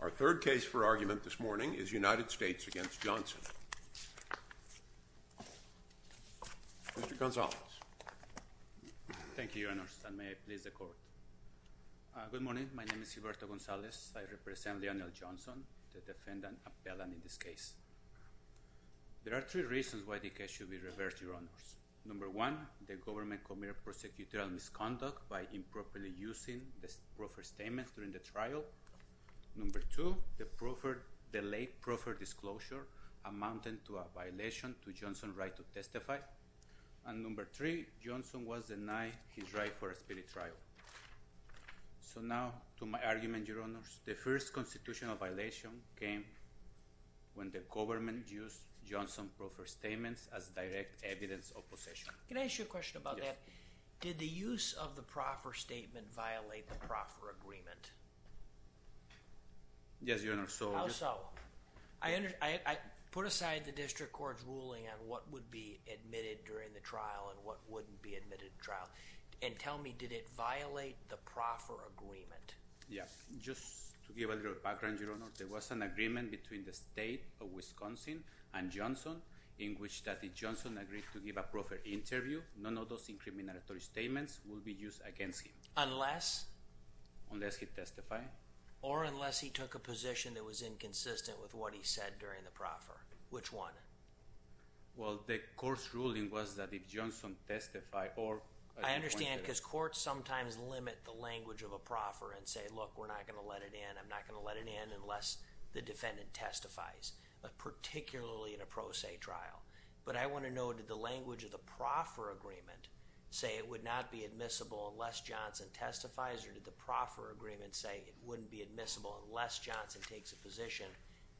Our third case for argument this morning is United States v. Johnson. Mr. Gonzalez. Thank you, Your Honors, and may I please the Court. Good morning. My name is Gilberto Gonzalez. I represent Lionel Johnson, the defendant appellant in this case. There are three reasons why the case should be reversed, Your Honors. Number one, the government committed prosecutorial misconduct by improperly using the proffered statements during the trial. Number two, the late proffered disclosure amounted to a violation to Johnson's right to testify. And number three, Johnson was denied his right for a speedy trial. So now to my argument, Your Honors. The first constitutional violation came when the government used Johnson's proffered statements as direct evidence of possession. Can I ask you a question about that? Yes. Did the use of the proffered statement violate the proffer agreement? Yes, Your Honor. How so? I put aside the district court's ruling on what would be admitted during the trial and what wouldn't be admitted in trial. And tell me, did it violate the proffer agreement? Yes. Just to give a little background, Your Honor. There was an agreement between the state of Wisconsin and Johnson in which Johnson agreed to give a proffered interview. None of those incriminatory statements would be used against him. Unless? Unless he testified. Or unless he took a position that was inconsistent with what he said during the proffer. Which one? Well, the court's ruling was that if Johnson testified or— I understand because courts sometimes limit the language of a proffer and say, look, we're not going to let it in, I'm not going to let it in unless the defendant testifies, particularly in a pro se trial. But I want to know, did the language of the proffer agreement say it would not be admissible unless Johnson testifies or did the proffer agreement say it wouldn't be admissible unless Johnson takes a position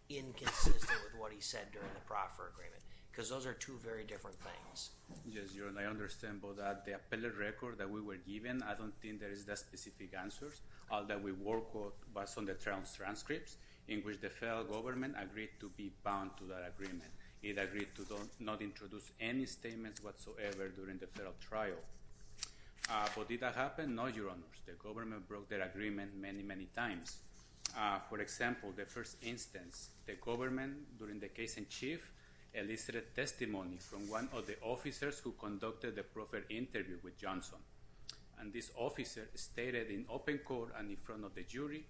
inconsistent with what he said during the proffer agreement? Because those are two very different things. Yes, Your Honor. I understand, but the appellate record that we were given, I don't think there is the specific answers. All that we work with was on the trial transcripts in which the federal government agreed to be bound to that agreement. It agreed to not introduce any statements whatsoever during the federal trial. But did that happen? No, Your Honors. The government broke their agreement many, many times. For example, the first instance, the government, during the case in chief, elicited testimony from one of the officers who conducted the proffer interview with Johnson. And this officer stated in open court and in front of the jury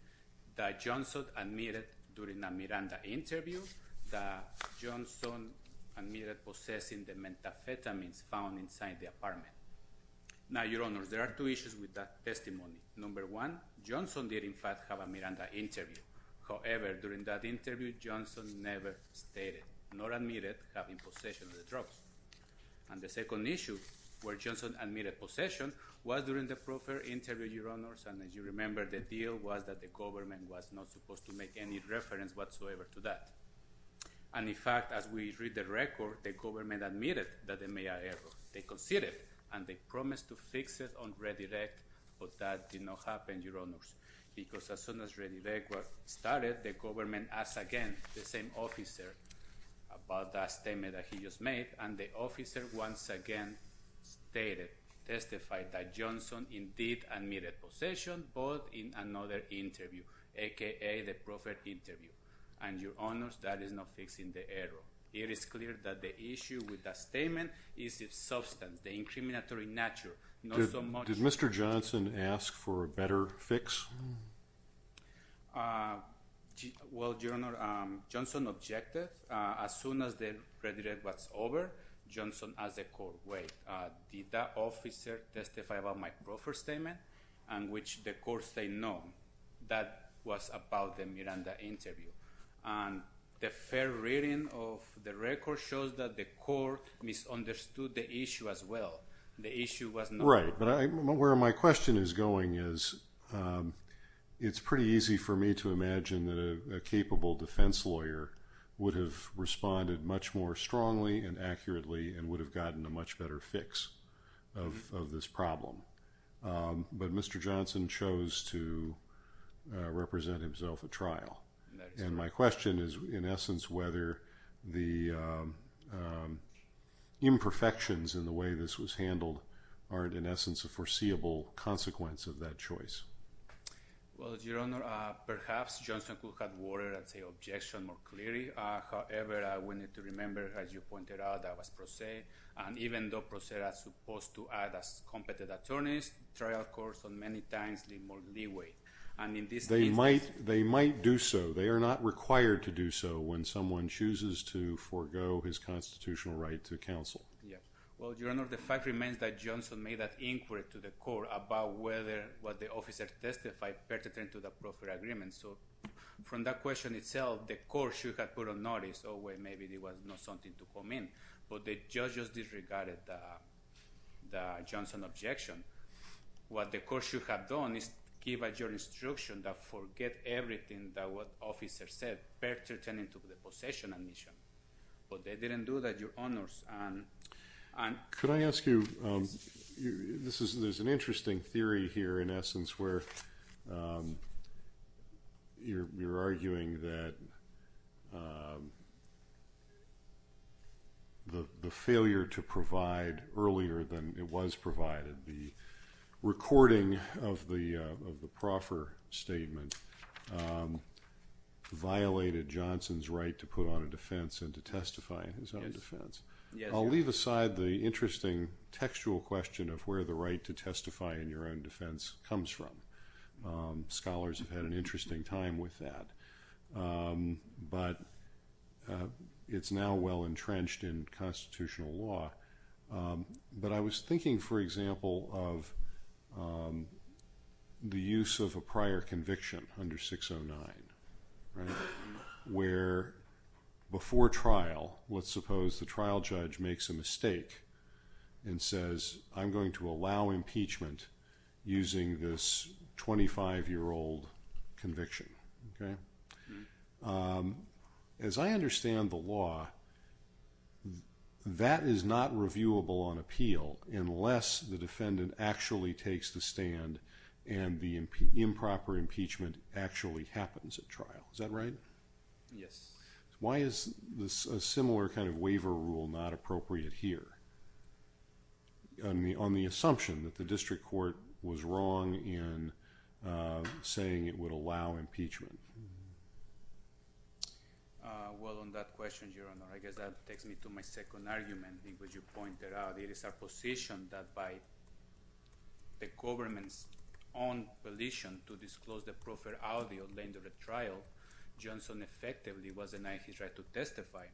that Johnson admitted during a Miranda interview that Johnson admitted possessing the methamphetamines found inside the apartment. Now, Your Honors, there are two issues with that testimony. Number one, Johnson did in fact have a Miranda interview. However, during that interview, Johnson never stated nor admitted having possession of the drugs. And the second issue where Johnson admitted possession was during the proffer interview, Your Honors, and as you remember, the deal was that the government was not supposed to make any reference whatsoever to that. And in fact, as we read the record, the government admitted that they made a error. They considered and they promised to fix it on redirect, but that did not happen, Your Honors. Because as soon as redirect was started, the government asked again the same officer about that statement that he just made, and the officer once again stated, testified that Johnson indeed admitted possession, but in another interview, aka the proffer interview. And, Your Honors, that is not fixing the error. It is clear that the issue with that statement is its substance, the incriminatory nature, not so much. Did Mr. Johnson ask for a better fix? Well, Your Honor, Johnson objected. As soon as the redirect was over, Johnson asked the court, wait, did that officer testify about my proffer statement? And which the court said no. That was about the Miranda interview. And the fair reading of the record shows that the court misunderstood the issue as well. The issue was not- Right, but where my question is going is it's pretty easy for me to imagine that a capable defense lawyer would have responded much more strongly and accurately and would have gotten a much better fix of this problem. But Mr. Johnson chose to represent himself at trial. And my question is, in essence, whether the imperfections in the way this was handled aren't, in essence, a foreseeable consequence of that choice. Well, Your Honor, perhaps Johnson could have watered the objection more clearly. However, we need to remember, as you pointed out, that was pro se, and even though pro se are supposed to add as competent attorneys, trial courts on many times leave more leeway. They might do so. They are not required to do so when someone chooses to forego his constitutional right to counsel. Well, Your Honor, the fact remains that Johnson made that inquiry to the court about whether the officer testified pertinent to the proffer agreement. So from that question itself, the court should have put a notice, oh, wait, maybe there was not something to comment. But the judges disregarded the Johnson objection. What the court should have done is give a jurisdiction to forget everything that the officer said pertinent to the possession admission. But they didn't do that, Your Honors. Could I ask you, there's an interesting theory here, in essence, where you're arguing that the failure to provide earlier than it was provided, the recording of the proffer statement violated Johnson's right to put on a defense and to testify in his own defense. I'll leave aside the interesting textual question of where the right to testify in your own defense comes from. Scholars have had an interesting time with that. But it's now well entrenched in constitutional law. But I was thinking, for example, of the use of a prior conviction under 609, right, where before trial, let's suppose the trial judge makes a mistake and says, I'm going to allow impeachment using this 25-year-old conviction. As I understand the law, that is not reviewable on appeal unless the defendant actually takes the stand and the improper impeachment actually happens at trial. Is that right? Yes. Why is a similar kind of waiver rule not appropriate here on the assumption that the district court was wrong in saying it would allow impeachment? Well, on that question, Your Honor, I guess that takes me to my second argument, which you pointed out. It is our position that by the government's own volition to disclose the profiled audio during the trial, Johnson effectively was denied his right to testify.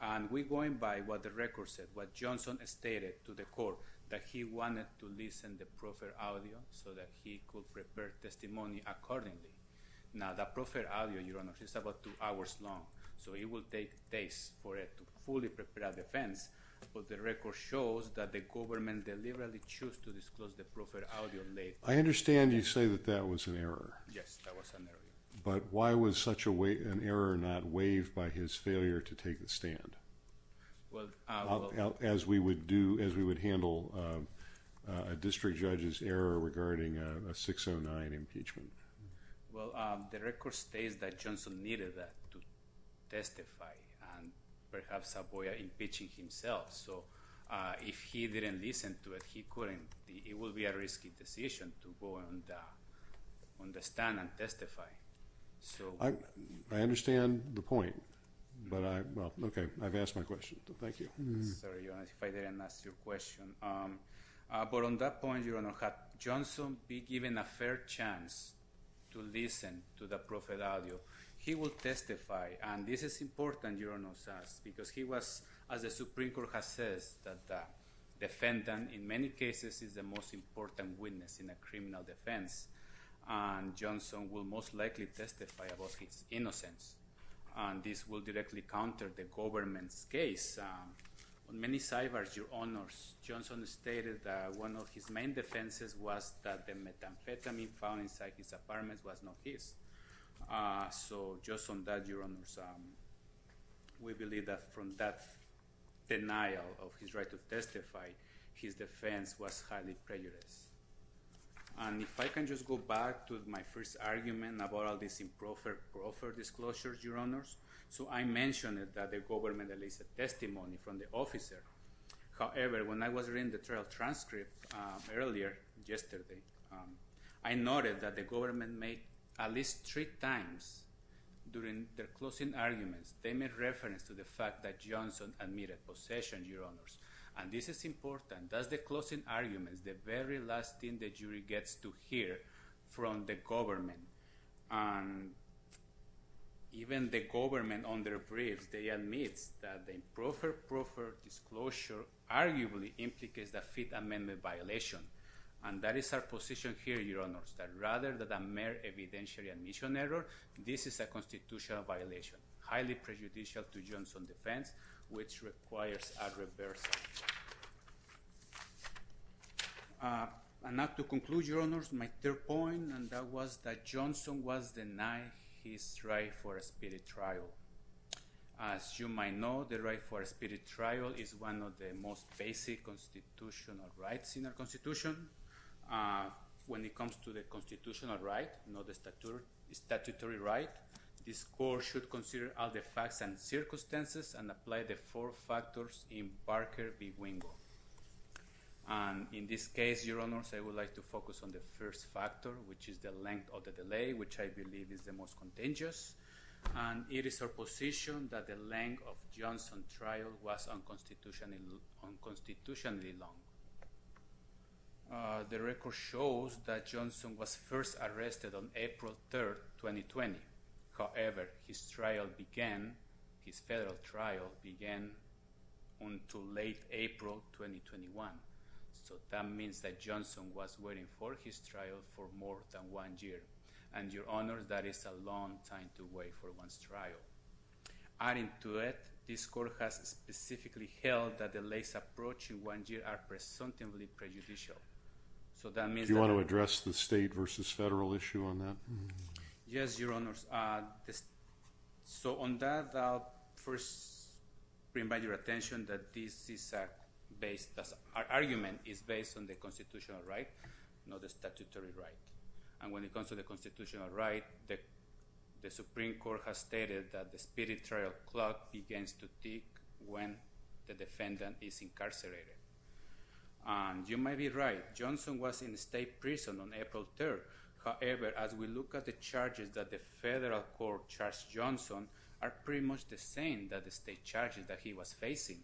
And we're going by what the record said, what Johnson stated to the court, that he wanted to listen to profiled audio so that he could prepare testimony accordingly. Now, the profiled audio, Your Honor, is about two hours long. So it will take days for it to fully prepare a defense. But the record shows that the government deliberately chose to disclose the profiled audio late. I understand you say that that was an error. Yes, that was an error. But why was such an error not waived by his failure to take the stand as we would handle a district judge's error regarding a 609 impeachment? Well, the record states that Johnson needed to testify and perhaps avoid impeaching himself. So if he didn't listen to it, he couldn't. It would be a risky decision to go on the stand and testify. I understand the point. But, well, OK, I've asked my question. Thank you. Sorry, Your Honor, if I didn't ask your question. But on that point, Your Honor, had Johnson been given a fair chance to listen to the profiled audio, he would testify. And this is important, Your Honor, because he was, as the Supreme Court has said, that the defendant in many cases is the most important witness in a criminal defense. And Johnson will most likely testify about his innocence. And this will directly counter the government's case. On many sidebars, Your Honors, Johnson stated that one of his main defenses was that the methamphetamine found inside his apartment was not his. So just on that, Your Honors, we believe that from that denial of his right to testify, his defense was highly prejudiced. And if I can just go back to my first argument about all these improper disclosures, Your Honors. So I mentioned that the government released a testimony from the officer. However, when I was reading the trial transcript earlier yesterday, I noted that the government made at least three times during their closing arguments, they made reference to the fact that Johnson admitted possession, Your Honors. And this is important. That's the closing arguments, the very last thing the jury gets to hear from the government. And even the government, on their briefs, they admit that the improper disclosure arguably implicates a Fifth Amendment violation. And that is our position here, Your Honors, that rather than a mere evidentiary admission error, this is a constitutional violation, highly prejudicial to Johnson's defense, which requires a reversal. And now to conclude, Your Honors, my third point, and that was that Johnson was denying his right for a speedy trial. As you might know, the right for a speedy trial is one of the most basic constitutional rights in our Constitution. When it comes to the constitutional right, not the statutory right, this Court should consider all the facts and circumstances and apply the four factors in Parker v. Wingo. And in this case, Your Honors, I would like to focus on the first factor, which is the length of the delay, which I believe is the most contingent. And it is our position that the length of Johnson's trial was unconstitutionally long. The record shows that Johnson was first arrested on April 3, 2020. However, his trial began, his federal trial began until late April 2021. So that means that Johnson was waiting for his trial for more than one year. And, Your Honors, that is a long time to wait for one's trial. Adding to it, this Court has specifically held that delays approaching one year are presumptively prejudicial. So that means that— Do you want to address the state versus federal issue on that? Yes, Your Honors. So on that, I'll first remind your attention that this is based—our argument is based on the constitutional right, not the statutory right. And when it comes to the constitutional right, the Supreme Court has stated that the spirit trial clock begins to tick when the defendant is incarcerated. And you might be right. Johnson was in state prison on April 3rd. However, as we look at the charges that the federal court charged Johnson are pretty much the same that the state charges that he was facing.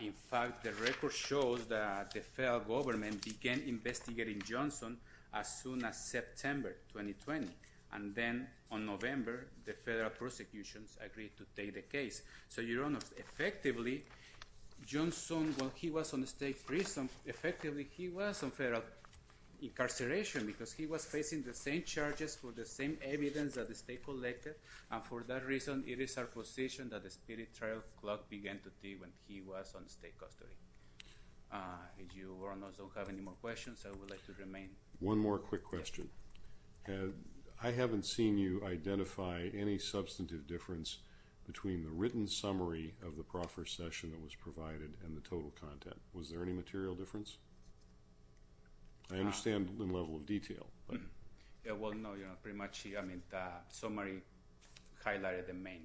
In fact, the record shows that the federal government began investigating Johnson as soon as September 2020. And then on November, the federal prosecutions agreed to take the case. So, Your Honors, effectively, Johnson, while he was in state prison, effectively he was in federal incarceration because he was facing the same charges for the same evidence that the state collected. And for that reason, it is our position that the spirit trial clock began to tick when he was in state custody. If Your Honors don't have any more questions, I would like to remain— One more quick question. I haven't seen you identify any substantive difference between the written summary of the proffer session that was provided and the total content. Was there any material difference? I understand the level of detail. Well, no. Pretty much the summary highlighted the main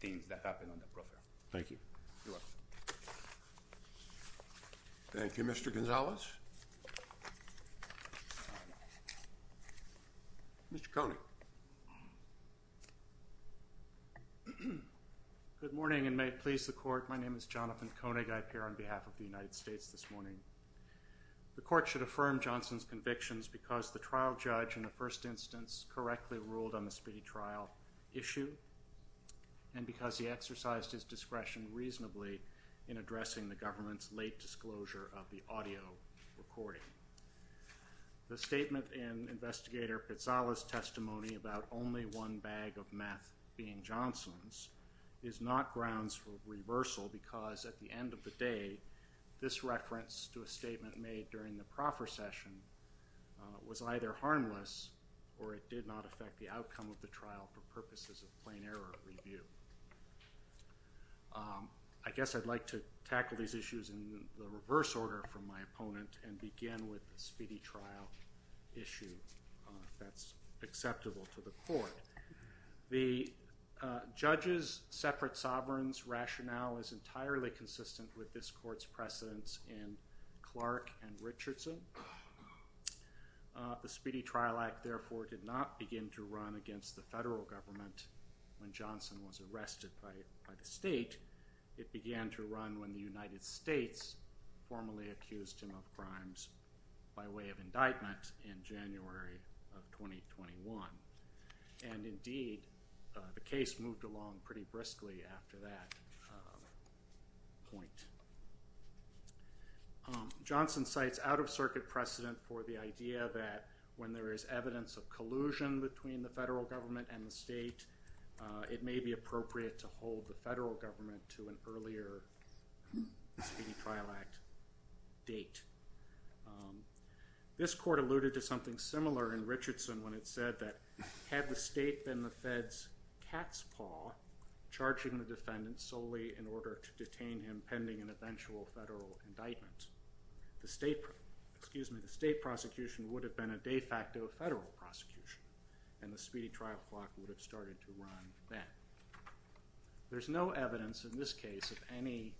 things that happened on the proffer. Thank you. You're welcome. Thank you, Mr. Gonzalez. Mr. Koenig. Good morning, and may it please the Court. My name is Jonathan Koenig. I appear on behalf of the United States this morning. The Court should affirm Johnson's convictions because the trial judge in the first instance correctly ruled on the spirit trial issue and because he exercised his discretion reasonably in addressing the government's late disclosure of the audio recording. The statement in Investigator Pizzala's testimony about only one bag of meth being Johnson's is not grounds for reversal because at the end of the day, this reference to a statement made during the proffer session was either harmless or it did not affect the outcome of the trial for purposes of plain error review. I guess I'd like to tackle these issues in the reverse order from my opponent and begin with the speedy trial issue, if that's acceptable to the Court. The judge's separate sovereign's rationale is entirely consistent with this Court's precedence in Clark and Richardson. The speedy trial act, therefore, did not begin to run against the federal government when Johnson was arrested by the state. It began to run when the United States formally accused him of crimes by way of indictment in January of 2021. And indeed, the case moved along pretty briskly after that point. Johnson cites out-of-circuit precedent for the idea that when there is evidence of collusion between the federal government and the state, it may be appropriate to hold the federal government to an earlier speedy trial act date. This Court alluded to something similar in Richardson when it said that had the state been the fed's cat's paw, charging the defendant solely in order to detain him pending an eventual federal indictment, the state prosecution would have been a de facto federal prosecution and the speedy trial clock would have started to run then. There's no evidence in this case of any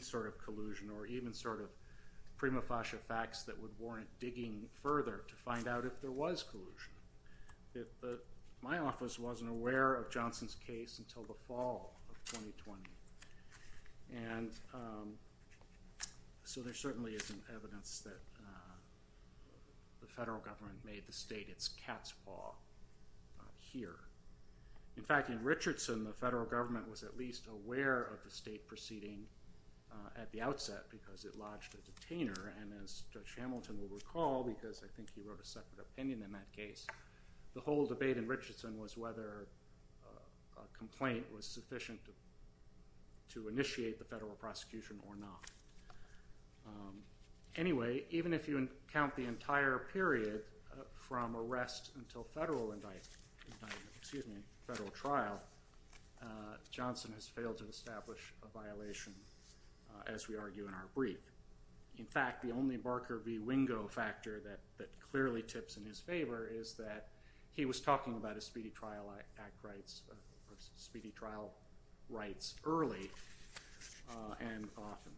sort of collusion or even sort of prima facie facts that would warrant digging further to find out if there was collusion. My office wasn't aware of Johnson's case until the fall of 2020. And so there certainly isn't evidence that the federal government made the state its cat's paw here. In fact, in Richardson, the federal government was at least aware of the state proceeding at the outset because it lodged a detainer. And as Judge Hamilton will recall, because I think he wrote a separate opinion in that case, the whole debate in Richardson was whether a complaint was sufficient to initiate the federal prosecution or not. Anyway, even if you count the entire period from arrest until federal indictment, excuse me, federal trial, Johnson has failed to establish a violation as we argue in our brief. In fact, the only Barker v. Wingo factor that clearly tips in his favor is that he was talking about a speedy trial act rights, speedy trial rights early and often.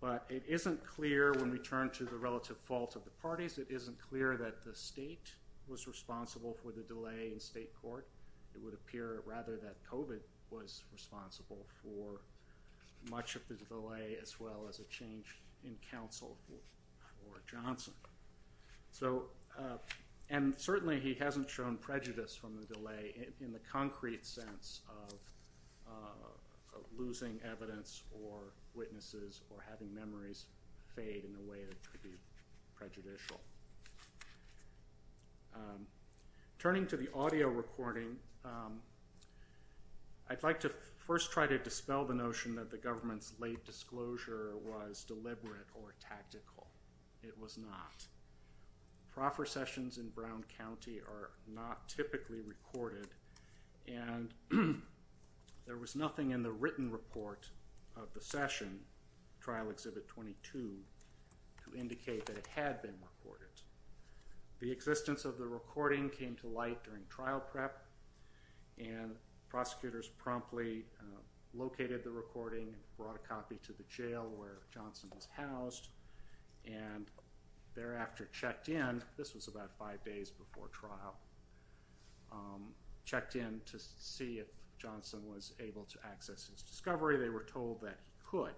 But it isn't clear when we turn to the relative fault of the parties. It isn't clear that the state was responsible for the delay in state court. It would appear rather that COVID was responsible for much of the delay as well as a change in counsel for Johnson. So and certainly he hasn't shown prejudice from the delay in the concrete sense of losing evidence or witnesses or having memories fade in a way that could be prejudicial. Turning to the audio recording, I'd like to first try to dispel the notion that the government's late disclosure was deliberate or tactical. It was not. Proffer sessions in Brown County are not typically recorded and there was nothing in the written report of the session, Trial Exhibit 22, to indicate that it had been recorded. The existence of the recording came to light during trial prep and prosecutors promptly located the recording, brought a copy to the jail where Johnson was housed and thereafter checked in, this was about five days before trial, checked in to see if Johnson was able to access his discovery. They were told that he could.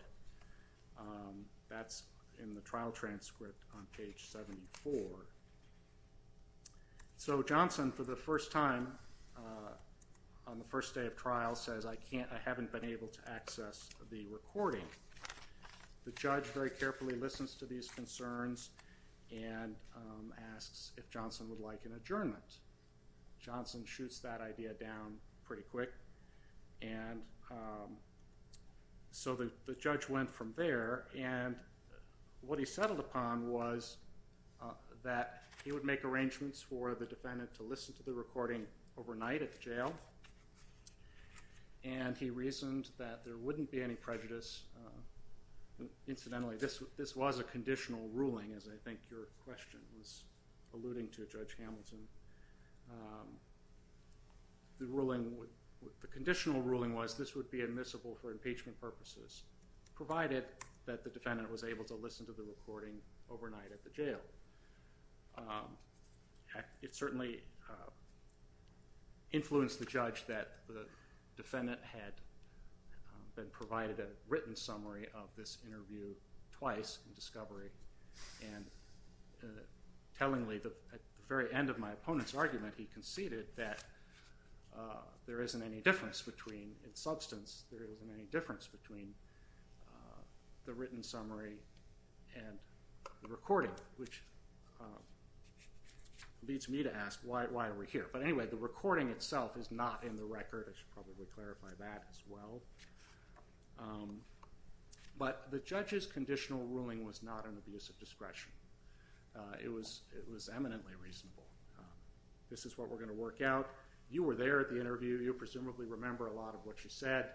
That's in the trial transcript on page 74. So Johnson for the first time on the first day of trial says I can't, I haven't been able to access the recording. The judge very carefully listens to these concerns and asks if Johnson would like an adjournment. Johnson shoots that idea down pretty quick. And so the judge went from there and what he settled upon was that he would make arrangements for the defendant to listen to the recording overnight at the jail and he reasoned that there wouldn't be any prejudice. Incidentally, this was a conditional ruling as I think your question was alluding to, Judge Hamilton. The conditional ruling was this would be admissible for impeachment purposes provided that the defendant was able to listen to the recording overnight at the jail. It certainly influenced the judge that the defendant had been provided a written summary of this interview twice in discovery and tellingly at the very end of my opponent's argument he conceded that there isn't any difference between its substance, there isn't any difference between the written summary and the recording which leads me to ask why are we here. But anyway, the recording itself is not in the record. I should probably clarify that as well. But the judge's conditional ruling was not an abuse of discretion. It was eminently reasonable. This is what we're going to work out. You were there at the interview. You presumably remember a lot of what you said.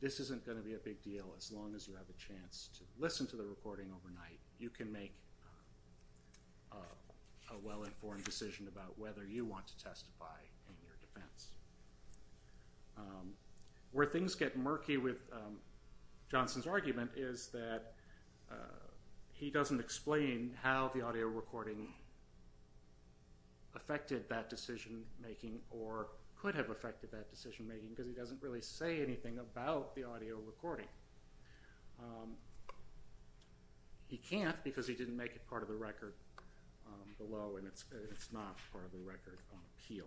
This isn't going to be a big deal as long as you have a chance to listen to the recording overnight. You can make a well-informed decision about whether you want to testify in your defense. Where things get murky with Johnson's argument is that he doesn't explain how the audio recording affected that decision making or could have affected that decision making because he doesn't really say anything about the audio recording. He can't because he didn't make it part of the record below and it's not part of the record on appeal.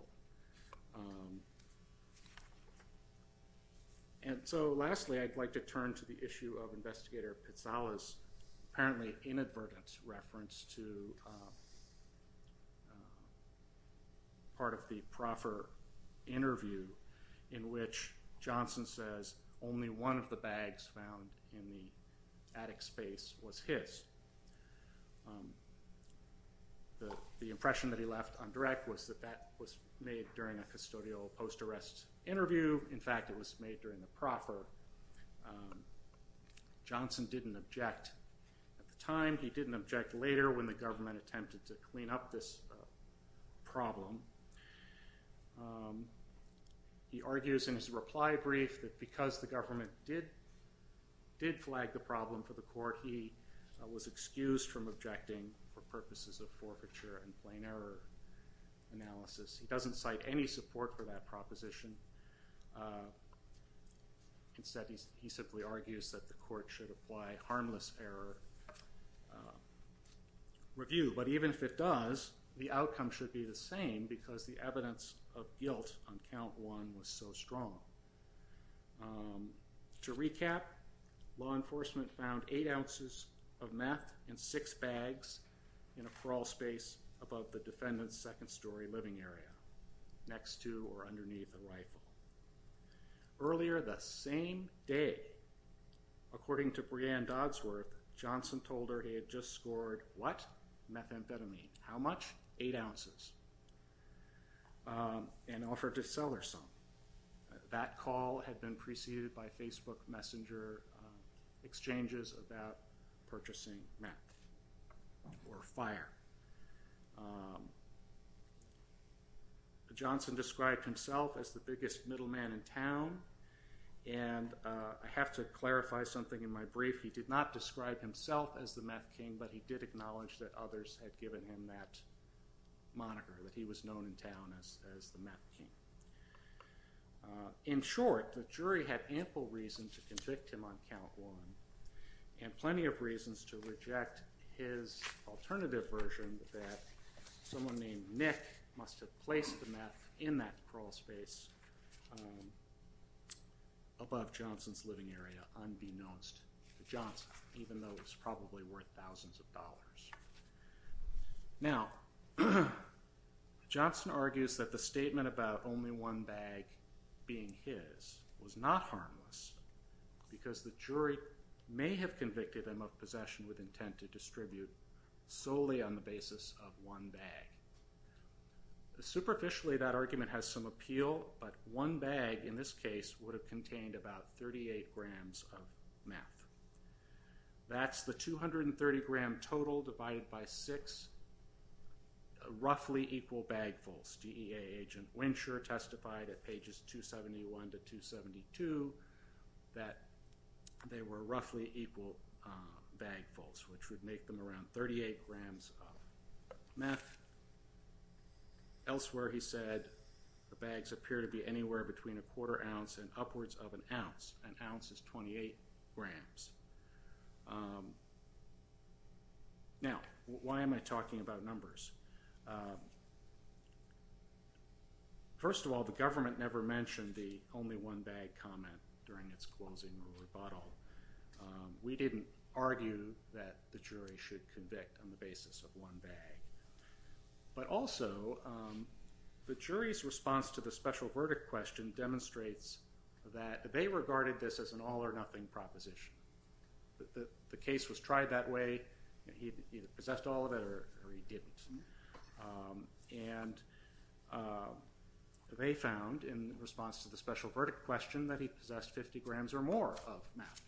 And so lastly I'd like to turn to the issue of Investigator Pitala's apparently inadvertent reference to part of the proffer interview in which Johnson says only one of the bags found in the attic space was his. The impression that he left on direct was that that was made during a custodial post-arrest interview. In fact it was made during the proffer. Johnson didn't object at the time. He didn't object later when the government attempted to clean up this problem. He argues in his reply brief that because the government did flag the problem for the court he was excused from objecting for purposes of forfeiture and plain error analysis. He doesn't cite any support for that proposition. Instead he simply argues that the court should apply harmless error review. But even if it does, the outcome should be the same because the evidence of guilt on count one was so strong. To recap, law enforcement found eight ounces of meth in six bags in a crawl space above the defendant's second story living area, next to or underneath the rifle. Earlier the same day, according to Breanne Doddsworth, Johnson told her he had just scored what? Methamphetamine. How much? Eight ounces. And offered to sell her some. That call had been preceded by Facebook Messenger exchanges about purchasing meth or fire. Johnson described himself as the biggest middleman in town. And I have to clarify something in my brief. He did not describe himself as the Meth King, but he did acknowledge that others had given him that moniker, that he was known in town as the Meth King. In short, the jury had ample reason to convict him on count one, and plenty of reasons to reject his alternative version that someone named Nick must have placed the meth in that crawl space above Johnson's living area unbeknownst to Johnson, even though it was probably worth thousands of dollars. Now, Johnson argues that the statement about only one bag being his was not harmless because the jury may have convicted him of possession with intent to distribute solely on the basis of one bag. Superficially, that argument has some appeal, but one bag, in this case, would have contained about 38 grams of meth. That's the 230-gram total divided by six roughly equal bagfuls. DEA agent Wincher testified at pages 271 to 272 that they were roughly equal bagfuls, which would make them around 38 grams of meth. Elsewhere, he said, the bags appear to be anywhere between a quarter ounce and upwards of an ounce. An ounce is 28 grams. Now, why am I talking about numbers? First of all, the government never mentioned the only one bag comment during its closing rebuttal. We didn't argue that the jury should convict on the basis of one bag. But also, the jury's response to the special verdict question demonstrates that they regarded this as an all-or-nothing proposition. The case was tried that way. He either possessed all of it or he didn't. And they found, in response to the special verdict question, that he possessed 50 grams or more of meth.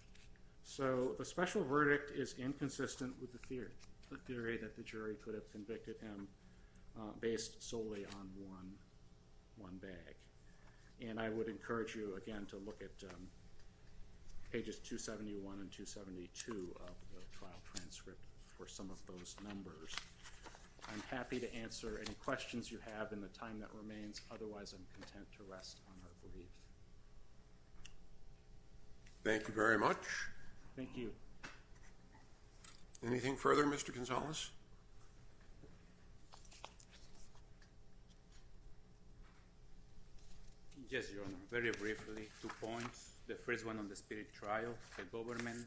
So the special verdict is inconsistent with the theory that the jury could have convicted him based solely on one bag. And I would encourage you, again, to look at pages 271 and 272 of the trial transcript for some of those numbers. I'm happy to answer any questions you have in the time that remains. Otherwise, I'm content to rest on our leave. Thank you very much. Thank you. Anything further, Mr. Gonzalez? Yes, Your Honor. Very briefly, two points. The first one on the spirit trial. The government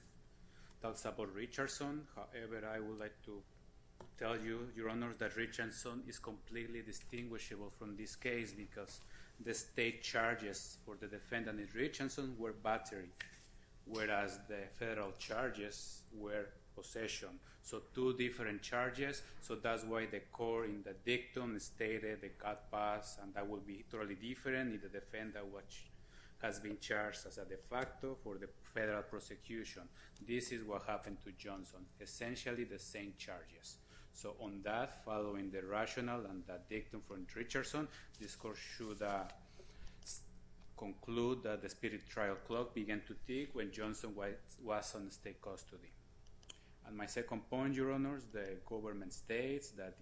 talks about Richardson. However, I would like to tell you, Your Honor, that Richardson is completely distinguishable from this case because the state charges for the defendant in Richardson were battery. Whereas the federal charges were possession. So two different charges. So that's why the court in the dictum stated the cutbacks. And that would be totally different in the defendant which has been charged as a de facto for the federal prosecution. This is what happened to Johnson. Essentially, the same charges. So on that, following the rationale and the dictum from Richardson, this court should conclude that the spirit trial clock began to tick when Johnson was in state custody. And my second point, Your Honors, the government states that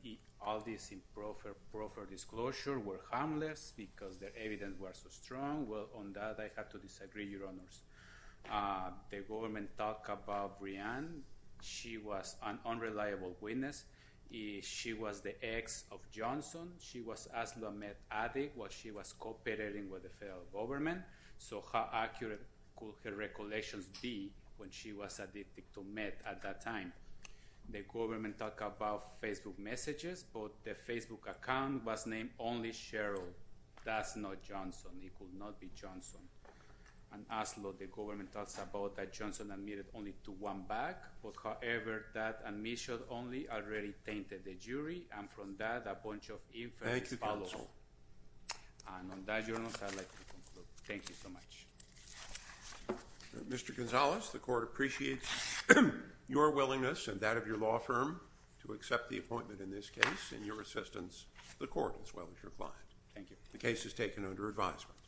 all these improper disclosure were harmless because the evidence was so strong. Well, on that, I have to disagree, Your Honors. The government talked about Breanne. She was an unreliable witness. She was the ex of Johnson. She was an addict while she was cooperating with the federal government. So how accurate could her recollections be when she was addicted to meth at that time? The government talked about Facebook messages, but the Facebook account was named only Cheryl. That's not Johnson. It could not be Johnson. And as law, the government talks about that Johnson admitted only to one back. However, that admission only already tainted the jury. And from that, a bunch of inference follows. Thank you, counsel. And on that, Your Honors, I'd like to conclude. Thank you so much. Mr. Gonzalez, the court appreciates your willingness and that of your law firm to accept the appointment in this case. And your assistance to the court as well as your client. Thank you. The case is taken under advisement.